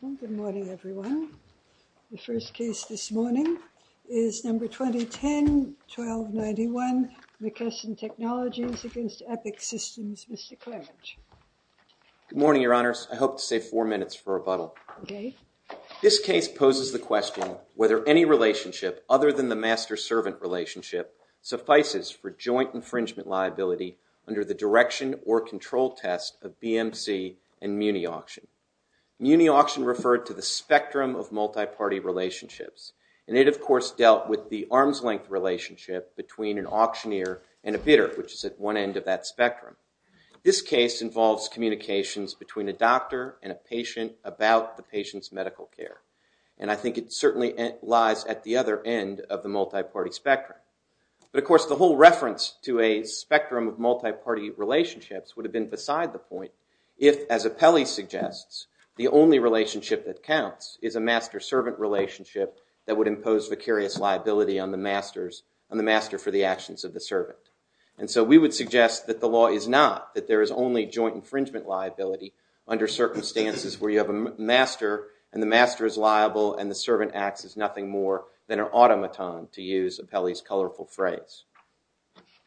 Good morning, everyone. The first case this morning is number 2010-1291, McKesson Technologies v. Epic Systems. Mr. Clarence. Good morning, Your Honors. I hope to save four minutes for rebuttal. This case poses the question whether any relationship, other than the master-servant relationship, suffices for joint infringement liability under the direction or control test of BMC and Muni Auction. Muni Auction referred to the spectrum of multiparty relationships, and it, of course, dealt with the arm's-length relationship between an auctioneer and a bidder, which is at one end of that spectrum. This case involves communications between a doctor and a patient about the patient's medical care, and I think it certainly lies at the other end of the multiparty spectrum. But, of course, the whole reference to a spectrum of multiparty relationships would have been beside the point if, as Apelli suggests, the only relationship that counts is a master-servant relationship that would impose vicarious liability on the master for the actions of the servant. And so we would suggest that the law is not that there is only joint infringement liability under circumstances where you have a master, and the master is liable, and the servant acts as nothing more than an automaton, to use Apelli's colorful phrase.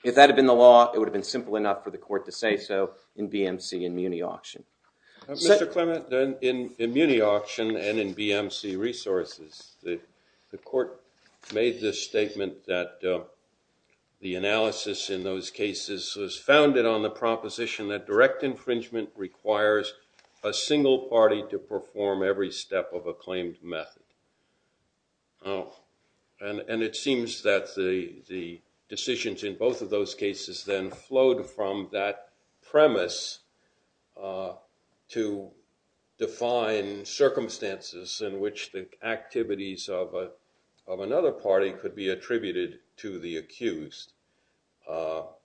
If that had been the law, it would have been simple enough for the court to say so in BMC and Muni Auction. Mr. Clement, in Muni Auction and in BMC resources, the court made this statement that the analysis in those cases was founded on the proposition that direct infringement requires a single party to perform every step of a claimed method. Oh, and it seems that the decisions in both of those cases then flowed from that premise to define circumstances in which the activities of another party could be attributed to the accused. How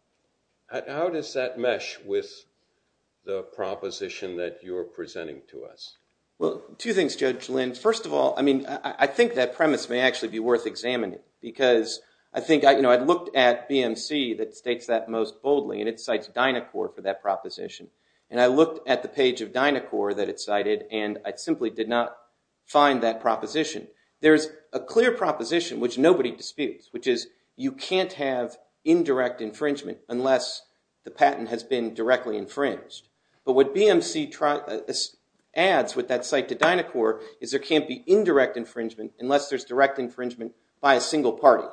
does that mesh with the proposition that you're presenting to us? Well, two things, Judge Lynn. First of all, I mean, I think that premise may actually be worth examining, because I think, you know, I looked at BMC that states that most boldly, and it cites Dynacor for that proposition. And I looked at the page of Dynacor that it cited, and I simply did not find that proposition. There's a clear proposition which nobody disputes, which is you can't have indirect infringement unless the patent has been directly infringed. But what BMC adds with that cite to Dynacor is there can't be indirect infringement unless there's direct infringement by a single party.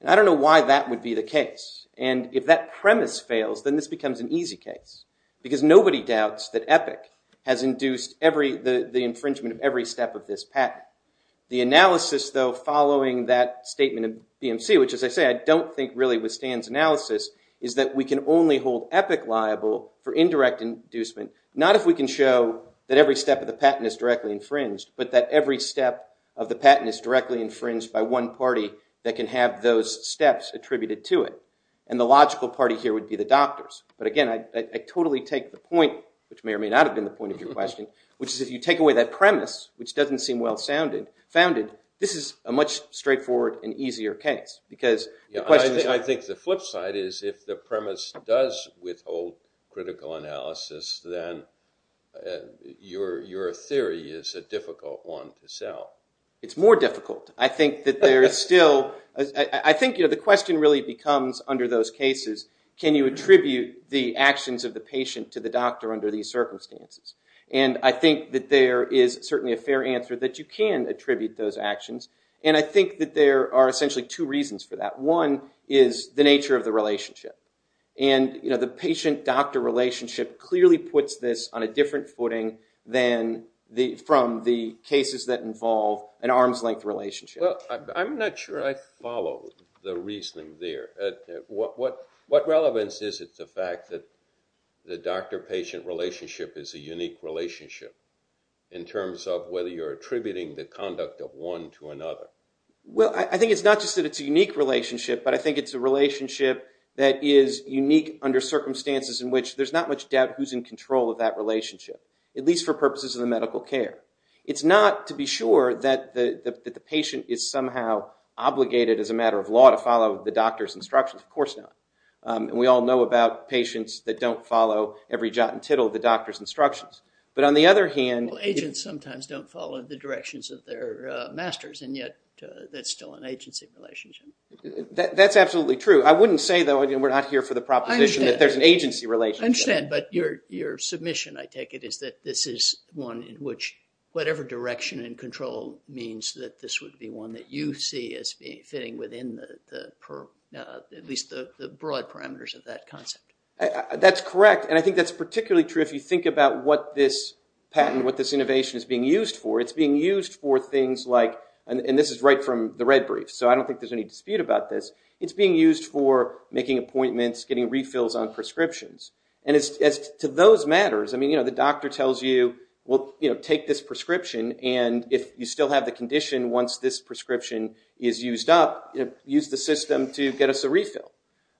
And I don't know why that would be the case. And if that premise fails, then this becomes an easy case, because nobody doubts that Epic has induced the infringement of every step of this patent. The analysis, though, following that statement of BMC, which, as I say, I don't think really withstands analysis, is that we can only hold Epic liable for indirect inducement, not if we can show that every step of the patent is directly infringed, but that every step of the patent is directly infringed by one party that can have those steps attributed to it. And the logical party here would be the doctors. But again, I totally take the point, which may or may not have been the point of your question, which is if you take away that premise, which doesn't seem well-founded, this is a much straightforward and easier case. I think the flip side is if the premise does withhold critical analysis, then your theory is a difficult one to sell. It's more difficult. I think the question really becomes under those cases, can you attribute the actions of the patient to the doctor under these circumstances? And I think that there is certainly a fair answer that you can attribute those actions. And I think that there are essentially two reasons for that. One is the nature of the relationship. And the patient-doctor relationship clearly puts this on a different footing from the cases that involve an arm's-length relationship. Well, I'm not sure I follow the reasoning there. What relevance is it to the fact that the doctor-patient relationship is a unique relationship in terms of whether you're attributing the conduct of one to another? Well, I think it's not just that it's a unique relationship, but I think it's a relationship that is unique under circumstances in which there's not much doubt who's in control of that relationship, at least for purposes of the medical care. It's not to be sure that the patient is somehow obligated as a matter of law to follow the doctor's instructions. Of course not. And we all know about patients that don't follow every jot and tittle of the doctor's instructions. But on the other hand... Well, agents sometimes don't follow the directions of their masters, and yet that's still an agency relationship. That's absolutely true. I wouldn't say, though, we're not here for the proposition that there's an agency relationship. I understand, but your submission, I take it, is that this is one in which whatever direction and control means that this would be one that you see as fitting within at least the broad parameters of that concept. That's correct. And I think that's particularly true if you think about what this patent, what this innovation is being used for. It's being used for things like... And this is right from the red brief, so I don't think there's any dispute about this. It's being used for making appointments, getting refills on prescriptions. And as to those matters, I mean, the doctor tells you, well, take this prescription, and if you still have the condition once this prescription is used up, use the system to get us a refill.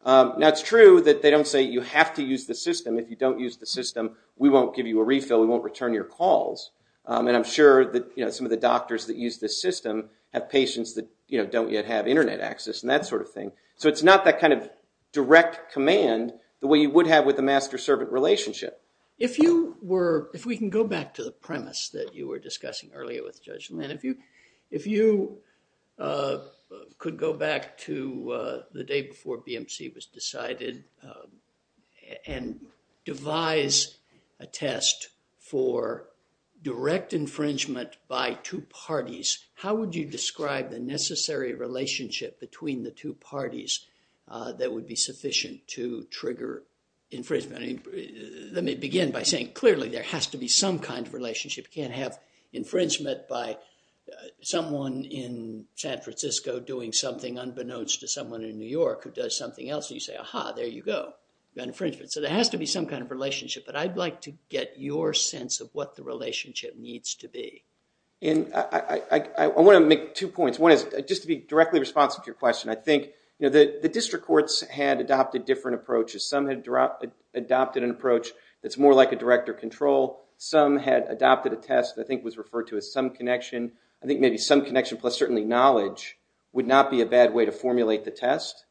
Now, it's true that they don't you have to use the system. If you don't use the system, we won't give you a refill. We won't return your calls. And I'm sure that some of the doctors that use this system have patients that don't yet have internet access and that sort of thing. So it's not that kind of direct command the way you would have with a master-servant relationship. If we can go back to the premise that you were discussing earlier with Judge Land, if you could go back to the day before BMC was and devise a test for direct infringement by two parties, how would you describe the necessary relationship between the two parties that would be sufficient to trigger infringement? Let me begin by saying, clearly, there has to be some kind of relationship. You can't have infringement by someone in San Francisco doing something unbeknownst to someone in New York who does something else. You say, aha, there you go. You got infringement. So there has to be some kind of relationship. But I'd like to get your sense of what the relationship needs to be. And I want to make two points. One is, just to be directly responsive to your question, I think, you know, the district courts had adopted different approaches. Some had adopted an approach that's more like a direct or control. Some had adopted a test that I think was referred to as some connection. I think maybe some connection plus certainly knowledge would not be a bad way to formulate the test.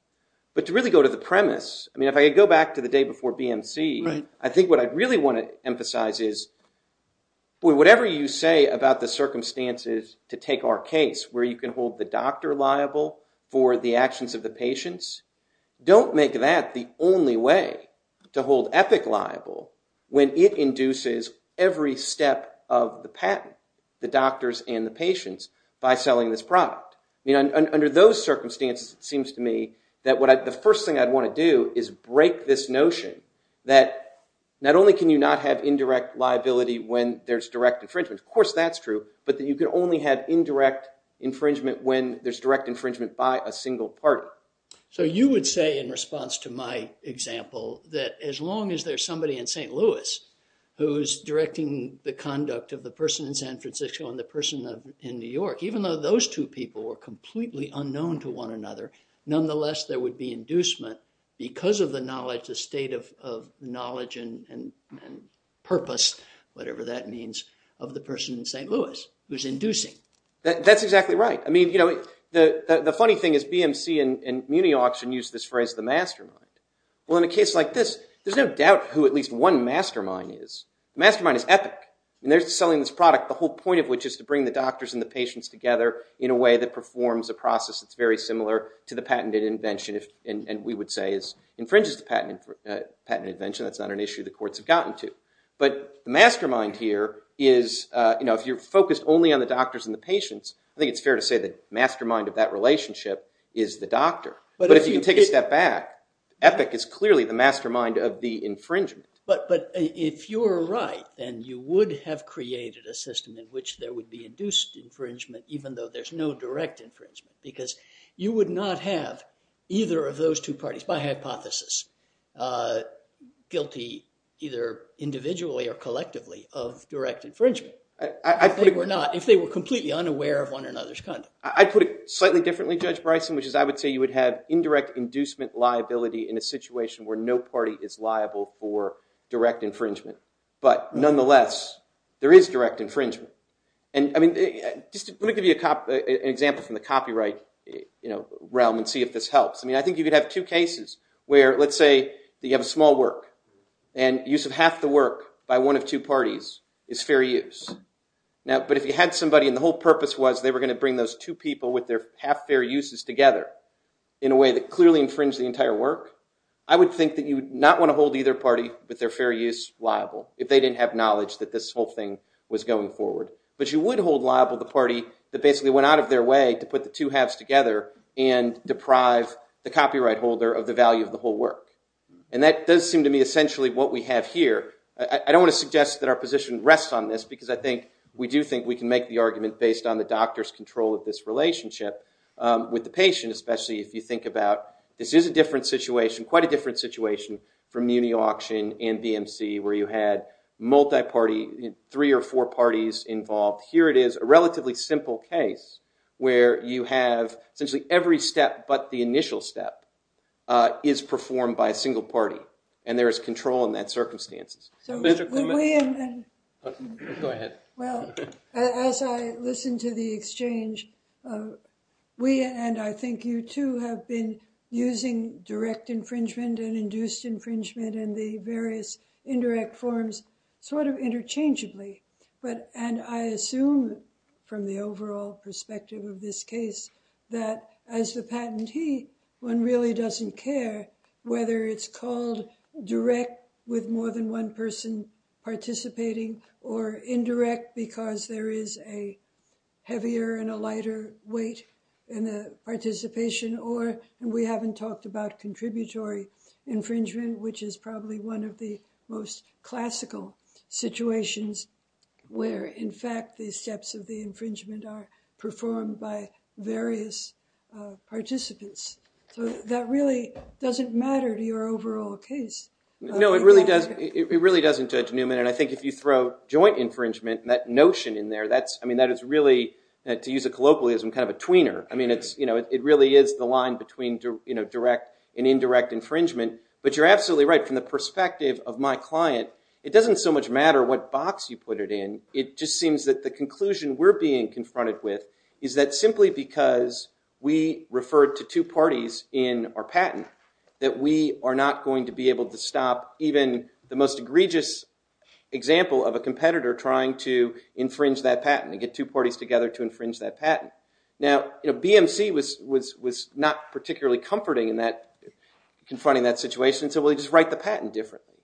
But to really go to the premise, I mean, if I go back to the day before BMC, I think what I really want to emphasize is, whatever you say about the circumstances to take our case where you can hold the doctor liable for the actions of the patients, don't make that the only way to hold Epic liable when it induces every step of the patent, the doctors and the patients, by selling this product. Under those circumstances, it seems to me that the first thing I'd want to do is break this notion that not only can you not have indirect liability when there's direct infringement. Of course, that's true. But that you can only have indirect infringement when there's direct infringement by a single party. So you would say, in response to my example, that as long as there's somebody in St. Louis who's directing the conduct of the person in San Francisco and the person in New York, even though those two people were completely unknown to one another, nonetheless, there would be inducement because of the knowledge, the state of knowledge and purpose, whatever that means, of the person in St. Louis who's inducing. That's exactly right. I mean, you know, the funny thing is BMC and Muni Auction use this phrase, the mastermind. Well, in a case like this, there's no doubt who at least one mastermind is. The mastermind is Epic. And they're selling this product, the whole point of which is to bring the doctors and the patients together in a way that performs a process that's very similar to the patented invention, and we would say infringes the patent invention. That's not an issue the courts have gotten to. But the mastermind here is, you know, if you're focused only on the doctors and the patients, I think it's fair to say the mastermind of that relationship is the doctor. But if you take a step back, Epic is clearly the mastermind of the infringement. But if you're right, then you would have created a system in which there would be induced infringement, even though there's no direct infringement, because you would not have either of those two parties, by hypothesis, guilty either individually or collectively of direct infringement if they were not, if they were completely unaware of one another's conduct. I'd put it slightly differently, Judge Bryson, which is I would say you would have indirect inducement liability in a situation where no party is liable for direct infringement. But nonetheless, there is direct infringement. And I mean, just let me give you an example from the copyright, you know, realm and see if this helps. I mean, I think you could have two cases where, let's say, you have a small work, and use of half the work by one of two parties is fair use. Now, but if you had somebody, and the whole purpose was they were going to bring those two with their half-fair uses together in a way that clearly infringed the entire work, I would think that you would not want to hold either party with their fair use liable if they didn't have knowledge that this whole thing was going forward. But you would hold liable the party that basically went out of their way to put the two halves together and deprive the copyright holder of the value of the whole work. And that does seem to me essentially what we have here. I don't want to suggest that our position rests on this, because I think we do think we can make the argument based on the doctor's control of this relationship with the patient, especially if you think about this is a different situation, quite a different situation, from Muni Auction and BMC, where you had multi-party, three or four parties involved. Here it is, a relatively simple case where you have essentially every step but the initial step is performed by a single party, and there is control in that circumstances. Go ahead. Well, as I listened to the exchange, we, and I think you too, have been using direct infringement and induced infringement and the various indirect forms sort of interchangeably. But, and I assume from the overall perspective of this case, that as the patentee, one really doesn't care whether it's called direct, with more than one person participating, or indirect, because there is a heavier and a lighter weight in the participation, or we haven't talked about contributory infringement, which is probably one of the most classical situations where, in fact, the steps of the infringement are performed by various participants. So that really doesn't matter to your overall case. No, it really does, it really doesn't, Judge Newman, and I think if you throw joint infringement, that notion in there, that's, I mean, that is really, to use a colloquialism, kind of a tweener. I mean, it's, you know, it really is the line between, you know, direct and indirect infringement. But you're absolutely right, from the perspective of my client, it doesn't so much matter what box you put it in, it just seems that the conclusion we're being confronted with is that simply because we referred to two parties in our patent, that we are not going to be able to stop even the most egregious example of a competitor trying to infringe that patent, and get two parties together to infringe that patent. Now, you know, BMC was not particularly comforting in that, confronting that situation, so we'll just write the patent differently.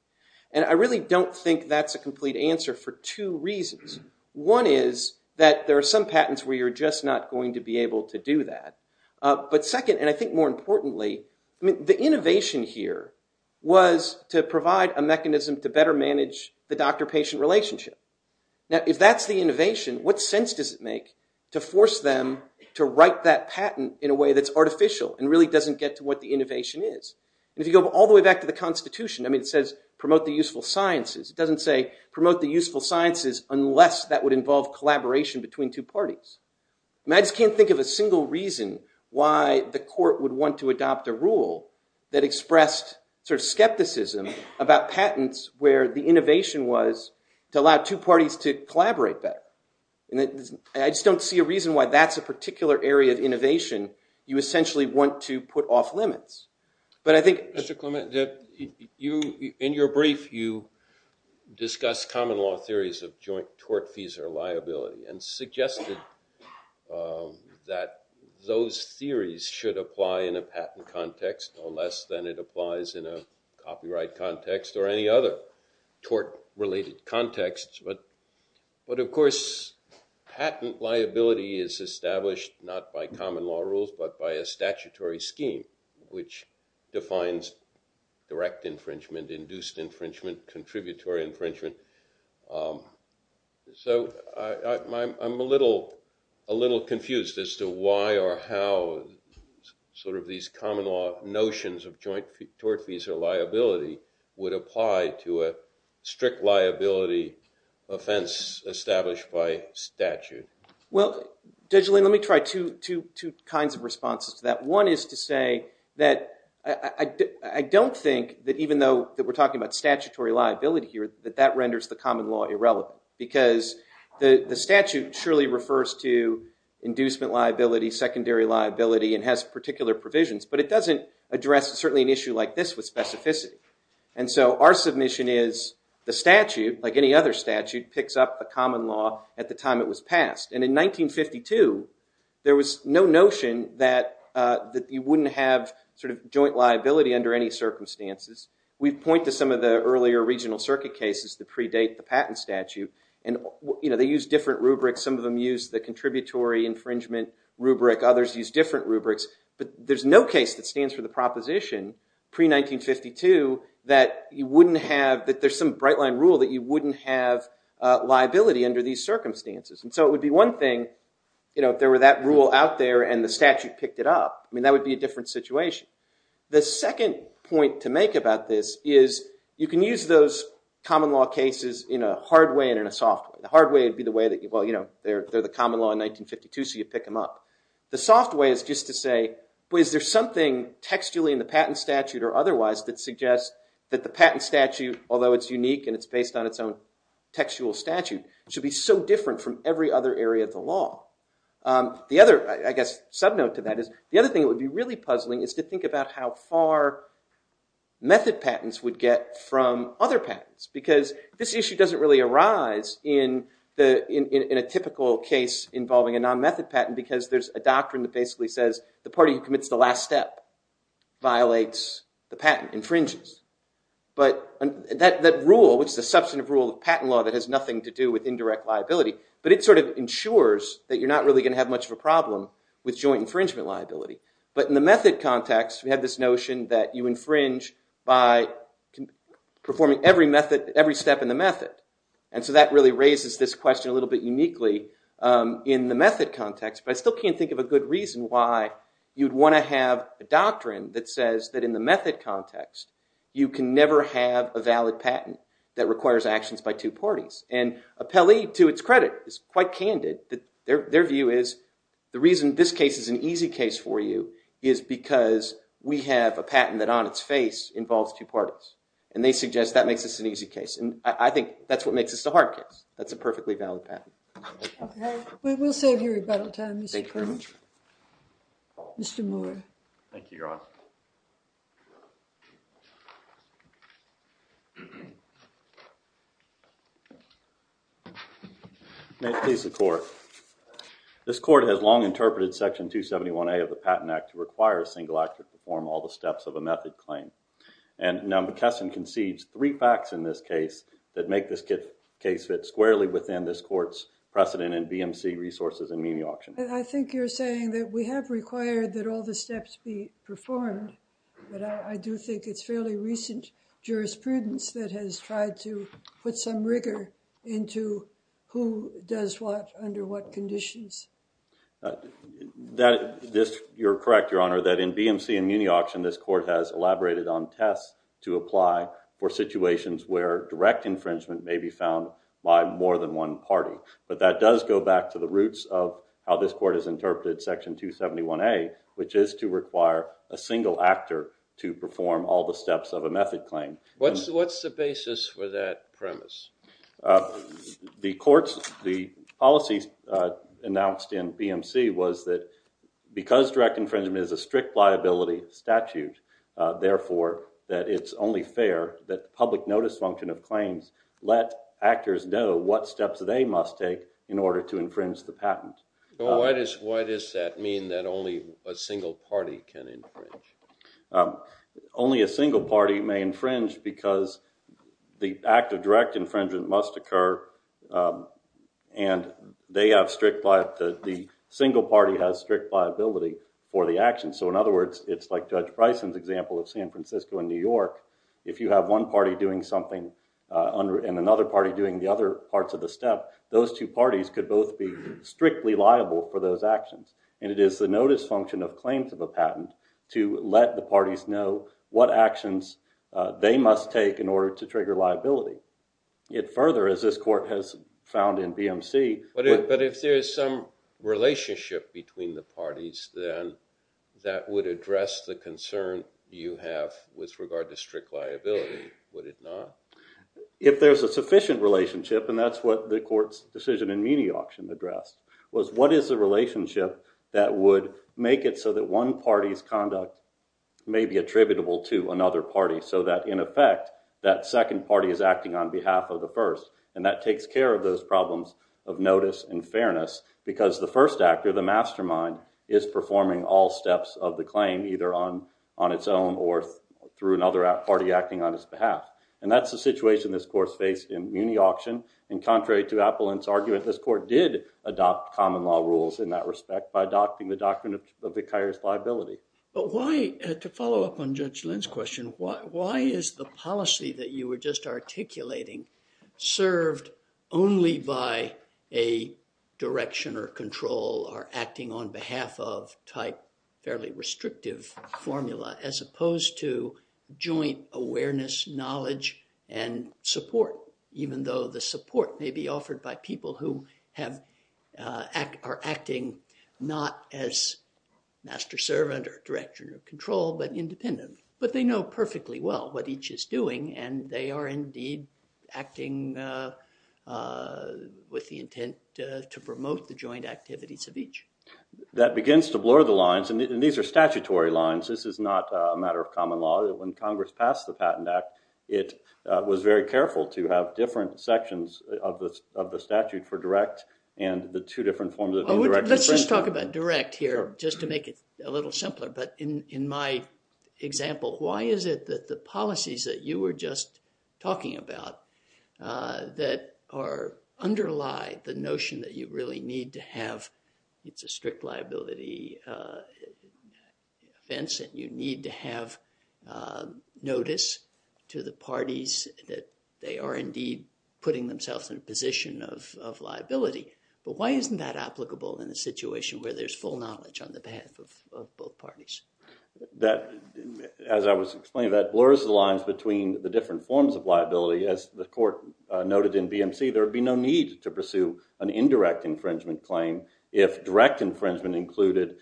And I really don't think that's a complete answer for two reasons. One is that there are some patents where you're just not going to be able to do that, but second, and I think more importantly, I mean, the innovation here was to provide a mechanism to better manage the doctor-patient relationship. Now, if that's the innovation, what sense does it make to force them to write that patent in a way that's artificial, and really doesn't get to what the innovation is? If you go all the way back to the Constitution, I mean, it says promote the useful sciences. It doesn't say promote the useful sciences unless that would involve collaboration between two parties. I just can't think of a single reason why the court would want to adopt a rule that expressed sort of skepticism about patents where the innovation was to allow two parties to collaborate better. And I just don't see a reason why that's a particular area of innovation you essentially want to put off limits. But I think... Mr. Clement, in your brief, you discuss common law theories of joint tort fees or liability, and suggested that those theories should apply in a patent context, no less than it applies in a copyright context, or any other tort-related context. But of course, patent liability is established not by common law rules, but by a statutory scheme which defines direct infringement, induced infringement, contributory infringement. So I'm a little confused as to why or how sort of these common law notions of joint tort fees or liability would apply to a strict liability offense established by statute. Well, Judge Lane, let me try two kinds of responses to that. One is to say that I don't think that even though that we're talking about statutory liability here, that that renders the common law irrelevant. Because the statute surely refers to inducement liability, secondary liability, and has particular provisions, but it doesn't address certainly an issue like this with specificity. And so our submission is the statute, like any other statute, picks up a common law at the time it was passed. And in 1952, there was no notion that you wouldn't have sort of joint liability under any circumstances. We point to some of the earlier regional circuit cases that predate the patent statute, and they use different rubrics. Some of them use the contributory infringement rubric. Others use different rubrics. But there's no case that stands for the proposition pre-1952 that you wouldn't have, that there's some bright line rule that you wouldn't have liability under these circumstances. And so it would be one thing if there were that rule out there and the statute picked it up. I mean, that would be a different situation. The second point to make about this is you can use those common law cases in a hard way in 1952, so you pick them up. The soft way is just to say, well, is there something textually in the patent statute or otherwise that suggests that the patent statute, although it's unique and it's based on its own textual statute, should be so different from every other area of the law? The other, I guess, subnote to that is the other thing that would be really puzzling is to think about how far method patents would get from other patents. Because this issue doesn't really arise in a typical case involving a non-method patent, because there's a doctrine that basically says the party who commits the last step violates the patent, infringes. But that rule, which is a substantive rule of patent law that has nothing to do with indirect liability, but it sort of ensures that you're not really going to have much of a problem with joint infringement liability. But in the method context, we have this notion that you infringe by performing every method, every step in the method. And so that really raises this question a little bit uniquely in the method context. But I still can't think of a good reason why you'd want to have a doctrine that says that in the method context, you can never have a valid patent that requires actions by two parties. And Appelli, to its credit, is quite candid. Their view is the reason this case is an easy case for you is because we have a patent that on its face involves two parties. And they suggest that makes this an easy case. And I think that's what makes this a hard case. That's a perfectly valid patent. We will save you rebuttal time, Mr. Perkins. Mr. Moore. Thank you, Your Honor. May it please the Court. This Court has long interpreted Section 271A of the Patent Act to require a single actor to perform all the steps of a method claim. And now McKesson concedes three facts in this case that make this case fit squarely within this Court's precedent in BMC resources and meme auction. I think you're saying that we have required that all the steps be performed. But I do think it's fairly recent jurisprudence that has tried to put some rigor into who does what under what conditions. You're correct, Your Honor, that in BMC and meme auction, this Court has elaborated on tests to apply for situations where direct infringement may be found by more than one party. But that does go back to the roots of how this Court has interpreted Section 271A, which is to require a single actor to perform all the steps of a method claim. What's the basis for that premise? The policy announced in BMC was that because direct infringement is a strict liability statute, therefore that it's only fair that the public notice function of claims let actors know what steps they must take in order to infringe the patent. Well, why does that mean that only a single party can infringe? Only a single party may infringe because the act of direct infringement must occur and the single party has strict liability for the action. So, in other words, it's like Judge Bryson's example of San Francisco and New York. If you have one party doing something and another party doing the other parts of the step, those two parties could both be strictly liable for those actions. And it is the notice function of claims of a patent to let the parties know what actions they must take in order to trigger liability. Yet further, as this Court has found in BMC... But if there's some relationship between the parties, then that would address the concern you have with regard to strict liability, would it not? If there's a sufficient relationship, and that's what the Court's decision in Muni Auction addressed, was what is the relationship that would make it so that one party's conduct may be attributable to another party so that, in effect, that second party is acting on behalf of the first. And that takes care of those problems of notice and fairness because the first actor, the mastermind, is performing all steps of the claim either on its own or through another party acting on its behalf. And that's the situation this Court's faced in Muni Auction. And contrary to Appolin's argument, this Court did adopt common law rules in that respect by adopting the doctrine of vicarious liability. But why, to follow up on Judge Lynn's question, why is the policy that you were just articulating served only by a direction or control or acting on behalf of type fairly restrictive formula as support, even though the support may be offered by people who are acting not as master servant or direction of control but independently? But they know perfectly well what each is doing, and they are indeed acting with the intent to promote the joint activities of each. That begins to blur the lines, and these are statutory lines. This is not a matter of common law. When Congress passed the Patent Act, it was very careful to have different sections of the statute for direct and the two different forms of indirect. Let's just talk about direct here just to make it a little simpler. But in my example, why is it that the policies that you were just talking about that underlie the notion that you really need to have, it's a strict notice to the parties that they are indeed putting themselves in a position of liability. But why isn't that applicable in a situation where there's full knowledge on the behalf of both parties? As I was explaining, that blurs the lines between the different forms of liability. As the Court noted in BMC, there would be no need to pursue an indirect infringement claim if direct infringement included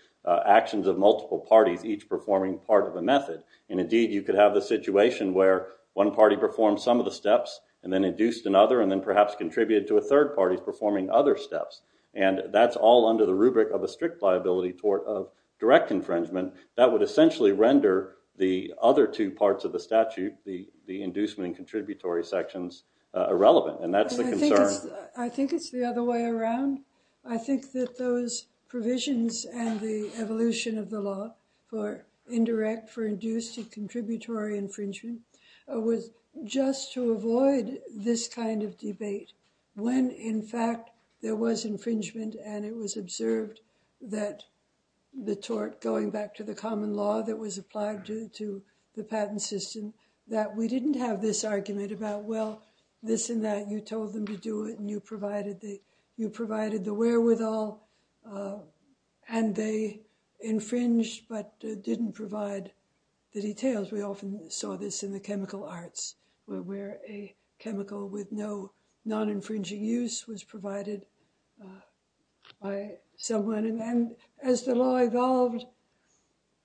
actions of multiple parties, each performing part of a method. And indeed, you could have the situation where one party performed some of the steps and then induced another and then perhaps contributed to a third party performing other steps. And that's all under the rubric of a strict liability tort of direct infringement. That would essentially render the other two parts of the statute, the inducement and contributory sections, irrelevant. And that's the concern. I think it's the other way around. I think that those provisions and the evolution of the law for indirect, for induced, and contributory infringement was just to avoid this kind of debate when, in fact, there was infringement and it was observed that the tort, going back to the common law that was applied to the patent system, that we didn't have this argument about, well, this and that, you told them to do it, and you provided the wherewithal, and they infringed but didn't provide the details. We often saw this in the chemical arts, where a chemical with no non-infringing use was provided by someone. And as the law evolved,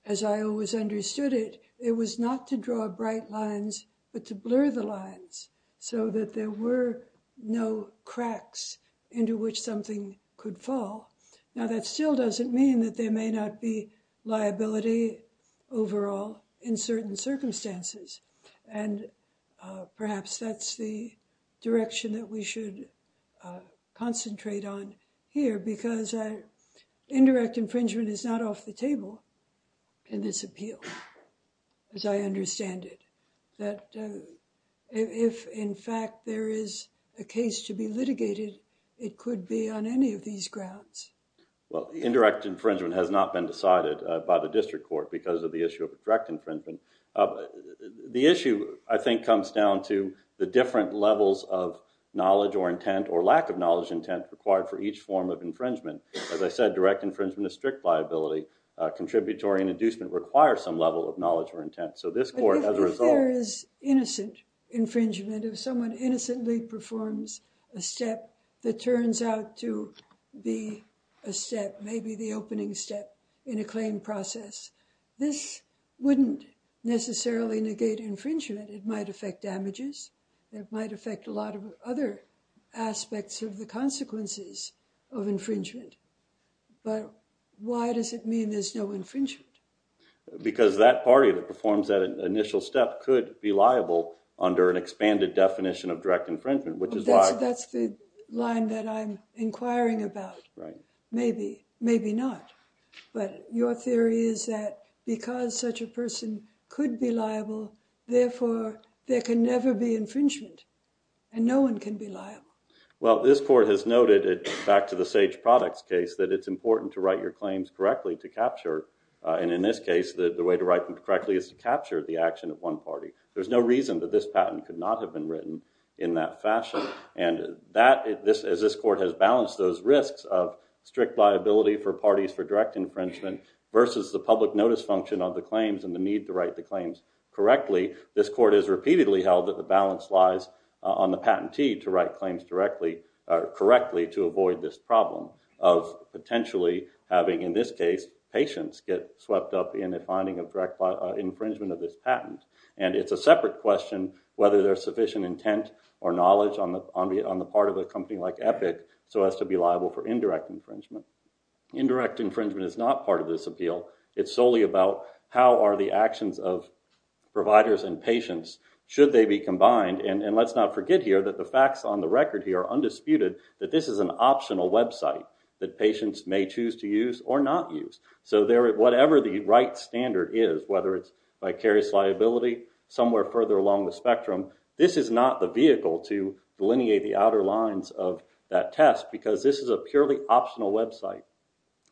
as I always understood it, it was not to draw bright lines but to blur the lines so that there were no cracks into which something could fall. Now, that still doesn't mean that there may not be liability overall in certain circumstances. And perhaps that's the direction that we should concentrate on here, because indirect infringement is not off the table in this appeal, as I understand it, that if, in fact, there is a case to be litigated, it could be on any of these grounds. Well, indirect infringement has not been decided by the district court because of the issue of direct infringement. The issue, I think, comes down to the different levels of knowledge or intent required for each form of infringement. As I said, direct infringement is strict liability. Contributory and inducement require some level of knowledge or intent. But if there is innocent infringement, if someone innocently performs a step that turns out to be a step, maybe the opening step in a claim process, this wouldn't necessarily negate infringement. It might affect damages. It might affect a lot of other aspects of the consequences of infringement. But why does it mean there's no infringement? Because that party that performs that initial step could be liable under an expanded definition of direct infringement, which is why— That's the line that I'm inquiring about. Maybe, maybe not. But your theory is that because such a person could be liable, therefore, there can never be infringement, and no one can be liable. Well, this court has noted, back to the Sage Products case, that it's important to write your claims correctly to capture, and in this case, the way to write them correctly is to capture the action of one party. There's no reason that this patent could not have been written in that fashion. And that, as this court has balanced those risks of strict liability for parties for direct infringement versus the public notice function of the claims and the need to write the claims correctly, this court has repeatedly held that the balance lies on the patentee to write claims correctly to avoid this problem of potentially having, in this case, patients get swept up in the finding of direct infringement of this patent. And it's a separate question whether there's sufficient intent or knowledge on the part of a company like Epic so as to be liable for indirect infringement. Indirect infringement is not part of this appeal. It's solely about how are the actions of providers and patients, should they be combined. And let's not forget here that the facts on the record here are undisputed that this is an optional website that patients may choose to use or not use. So whatever the right standard is, whether it's vicarious liability, somewhere further along the spectrum, this is not the vehicle to delineate the outer lines of that test because this is a purely optional website.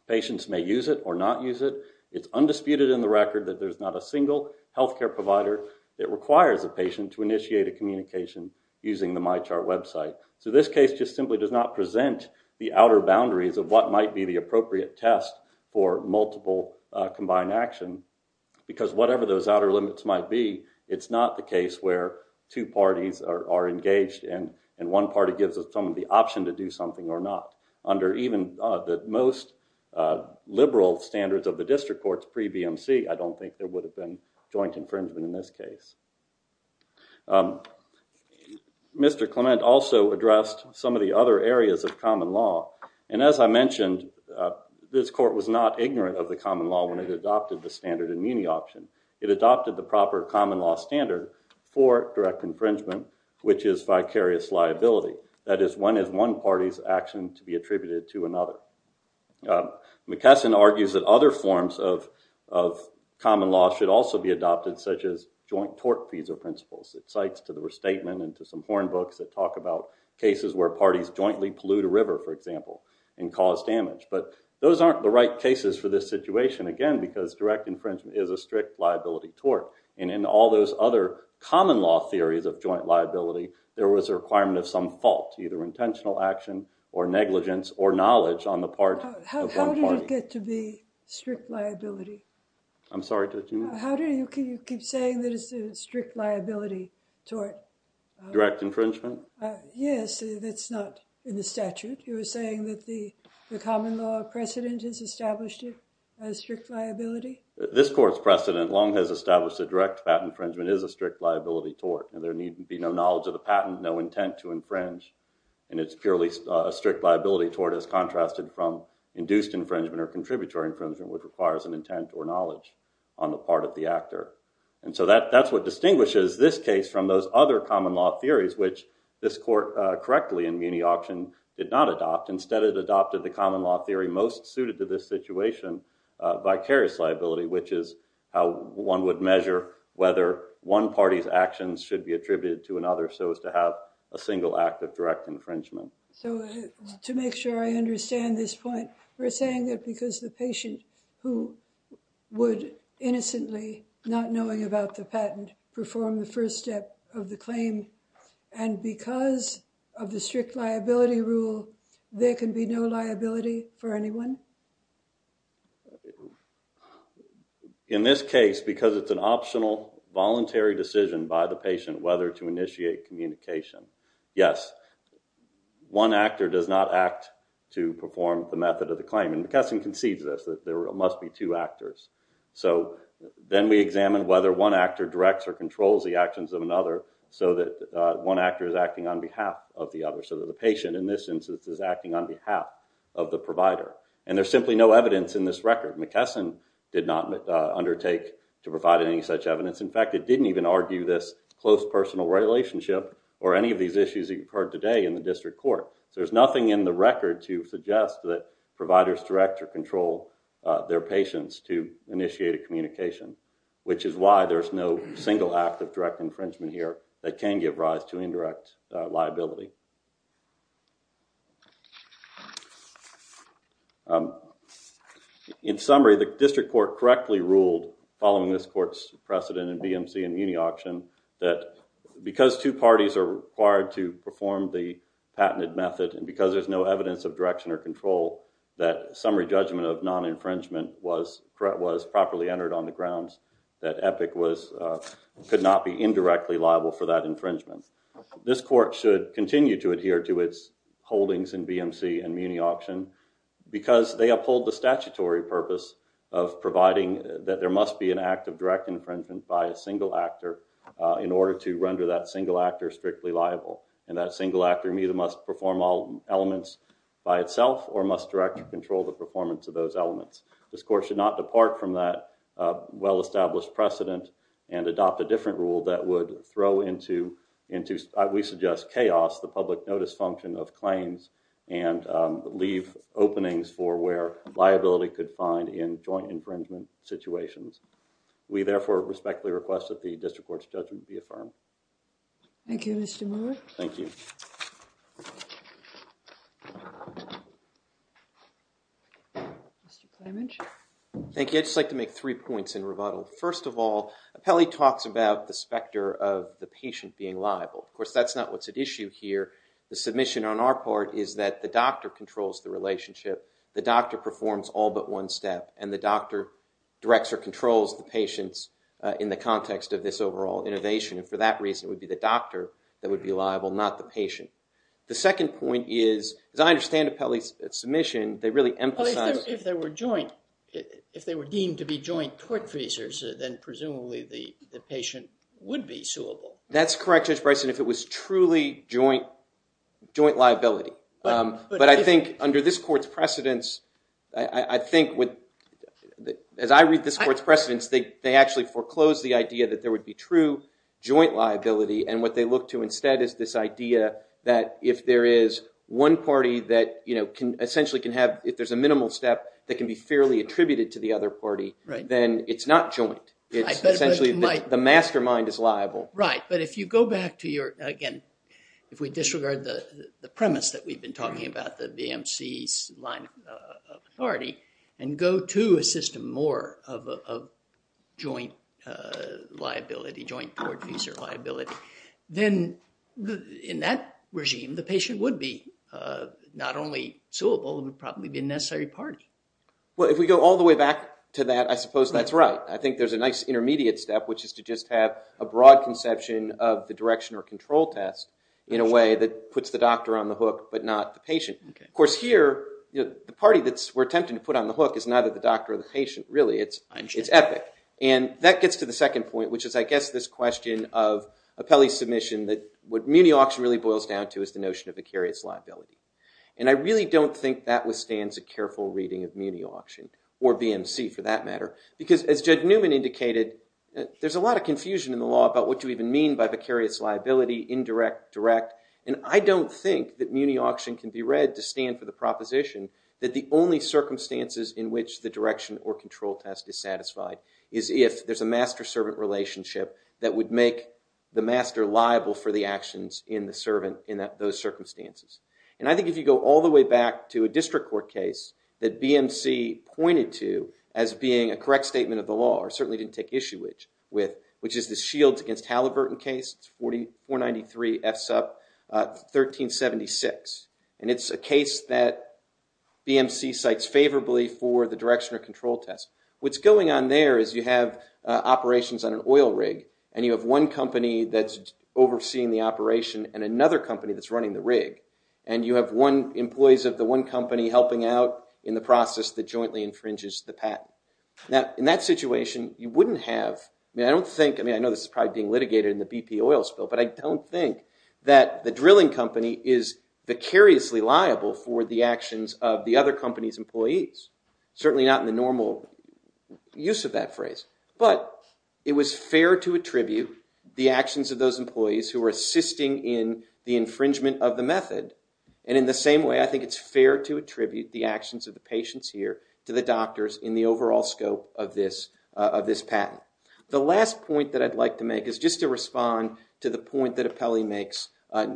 Patients may use it or not use it. It's undisputed in the record that there's not a single health care provider that requires a patient to initiate a communication using the MyChart website. So this case just simply does not present the outer boundaries of what might be the appropriate test for multiple combined action because whatever those outer limits might be, it's not the case where two parties are engaged and one party gives someone the option to do something or not. Under even the most liberal standards of the district courts pre-BMC, I don't think there would have been joint infringement in this case. Mr. Clement also addressed some of the other areas of common law. And as I mentioned, this court was not ignorant of the common law when it adopted the standard immunity option. It adopted the proper common law standard for direct infringement, which is vicarious liability. That is, one is one party's action to be attributed to another. McKesson argues that other forms of common law should also be adopted, such as joint tort fees or principles. It cites to the restatement and to some porn books that talk about cases where parties jointly pollute a river, for example, and cause damage. But those aren't the right cases for this situation, again, because direct infringement is a strict liability tort. And in all those other common law theories of joint liability, there was a requirement of some fault, either intentional action or negligence or knowledge on the part of one party. How did it get to be strict liability? I'm sorry to interrupt. How do you keep saying that it's a strict liability tort? Direct infringement? Yes, that's not in the statute. You were saying that the this court's precedent long has established that direct patent infringement is a strict liability tort, and there need be no knowledge of the patent, no intent to infringe. And it's purely a strict liability tort as contrasted from induced infringement or contributory infringement, which requires an intent or knowledge on the part of the actor. And so that's what distinguishes this case from those other common law theories, which this court correctly in muni option did not adopt. Instead, it adopted the common law theory most which is how one would measure whether one party's actions should be attributed to another so as to have a single act of direct infringement. So to make sure I understand this point, we're saying that because the patient who would innocently, not knowing about the patent, perform the first step of the claim, and because of the strict liability rule, there can be no liability for anyone? In this case, because it's an optional voluntary decision by the patient whether to initiate communication, yes, one actor does not act to perform the method of the claim. And McKesson concedes this, that there must be two actors. So then we examine whether one actor directs or controls the actions of another so that one actor is acting on behalf of the other, so that the acting on behalf of the provider. And there's simply no evidence in this record. McKesson did not undertake to provide any such evidence. In fact, it didn't even argue this close personal relationship or any of these issues you've heard today in the district court. There's nothing in the record to suggest that providers direct or control their patients to initiate a communication, which is why there's no single act of direct infringement here that can give rise to indirect liability. In summary, the district court correctly ruled, following this court's precedent in BMC and uni auction, that because two parties are required to perform the patented method and because there's no evidence of direction or control, that summary judgment of non-infringement was properly entered on the grounds that Epic could not be indirectly liable for that infringement. This court should continue to adhere to its holdings in BMC and muni auction because they uphold the statutory purpose of providing that there must be an act of direct infringement by a single actor in order to render that single actor strictly liable. And that single actor must perform all elements by itself or must direct or control the performance of those elements. This court should not depart from that well-established precedent and adopt a different rule that would throw into, we suggest, chaos the public notice function of claims and leave openings for where liability could find in joint infringement situations. We therefore respectfully request that the district court's judgment be affirmed. Thank you, Mr. Moore. Thank you. Thank you. I'd just like to make three points in rebuttal. First of all, Apelli talks about the specter of the patient being liable. Of course, that's not what's at issue here. The submission on our part is that the doctor controls the relationship. The doctor performs all but one step and the doctor directs or controls the patients in the context of this overall innovation. And for that reason, it would be the doctor that would be liable, not the patient. The second point is, as I understand Apelli's submission, they really emphasize- if they were deemed to be joint court visas, then presumably the patient would be suable. That's correct, Judge Bryson, if it was truly joint liability. But I think under this court's precedents, I think as I read this court's precedents, they actually foreclose the idea that there would be true joint liability. And what they look to instead is this idea that if there is one party that essentially can have- if there's a minimal step, that can be fairly attributed to the other party, then it's not joint. It's essentially the mastermind is liable. Right, but if you go back to your- again, if we disregard the premise that we've been talking about, the VMC's line of authority, and go to a system more of joint liability, joint court visa liability, then in that regime, the patient would be not only suable, but would probably be a necessary party. Well, if we go all the way back to that, I suppose that's right. I think there's a nice intermediate step, which is to just have a broad conception of the direction or control test in a way that puts the doctor on the hook, but not the patient. Of course here, the party that we're attempting to put on the hook is neither the doctor or the patient, really. It's epic. And that gets to the second point, which is I guess this question of Apelli's And I really don't think that withstands a careful reading of Muni Auction, or VMC for that matter, because as Judge Newman indicated, there's a lot of confusion in the law about what you even mean by vicarious liability, indirect, direct, and I don't think that Muni Auction can be read to stand for the proposition that the only circumstances in which the direction or control test is satisfied is if there's a master-servant relationship that would make the master liable for the actions in the servant in those circumstances. And I think if you go all the way back to a district court case that BMC pointed to as being a correct statement of the law, or certainly didn't take issue with, which is the Shields against Halliburton case, it's 493 F SUP 1376. And it's a case that BMC cites favorably for the direction or control test. What's going on there is you have operations on an oil rig, and you have one company that's overseeing the operation and another company that's running the rig, and you have employees of the one company helping out in the process that jointly infringes the patent. Now in that situation, you wouldn't have, I mean I don't think, I mean I know this is probably being litigated in the BP oil spill, but I don't think that the drilling company is vicariously liable for the actions of the other company's employees. Certainly not in the normal use of that phrase, but it was fair to attribute the actions of those employees who were assisting in the infringement of the method. And in the same way, I think it's fair to attribute the actions of the patients here to the doctors in the overall scope of this patent. The last point that I'd like to make is just to respond to the point that Apelli makes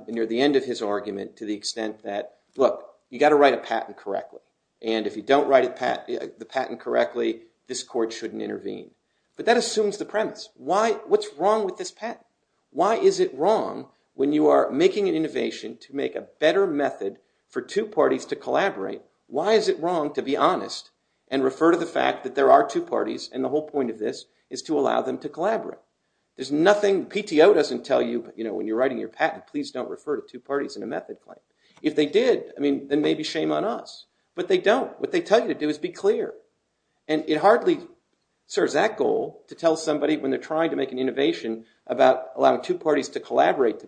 near the end of his argument to the extent that, look, you got to write a patent correctly. And if you don't write the patent correctly, this court shouldn't intervene. But that assumes the premise. Why, what's wrong with this patent? Why is it wrong when you are making an innovation to make a better method for two parties to collaborate, why is it wrong to be honest and refer to the fact that there are two parties and the whole point of this is to allow them to collaborate? There's nothing, PTO doesn't tell you, you know, when you're writing your patent, please don't refer to two parties in a method claim. If they did, I mean, then maybe shame on us. But they don't. What they tell you to do is be clear. And it hardly serves that goal to tell somebody when they're trying to make an innovation about allowing two parties to collaborate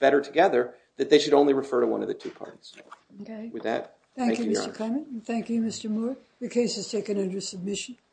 better together that they should only refer to one of the two parties. Okay. With that, thank you, Your Honor. Thank you, Mr. Clement, and thank you, Mr. Moore. The case is taken under submission.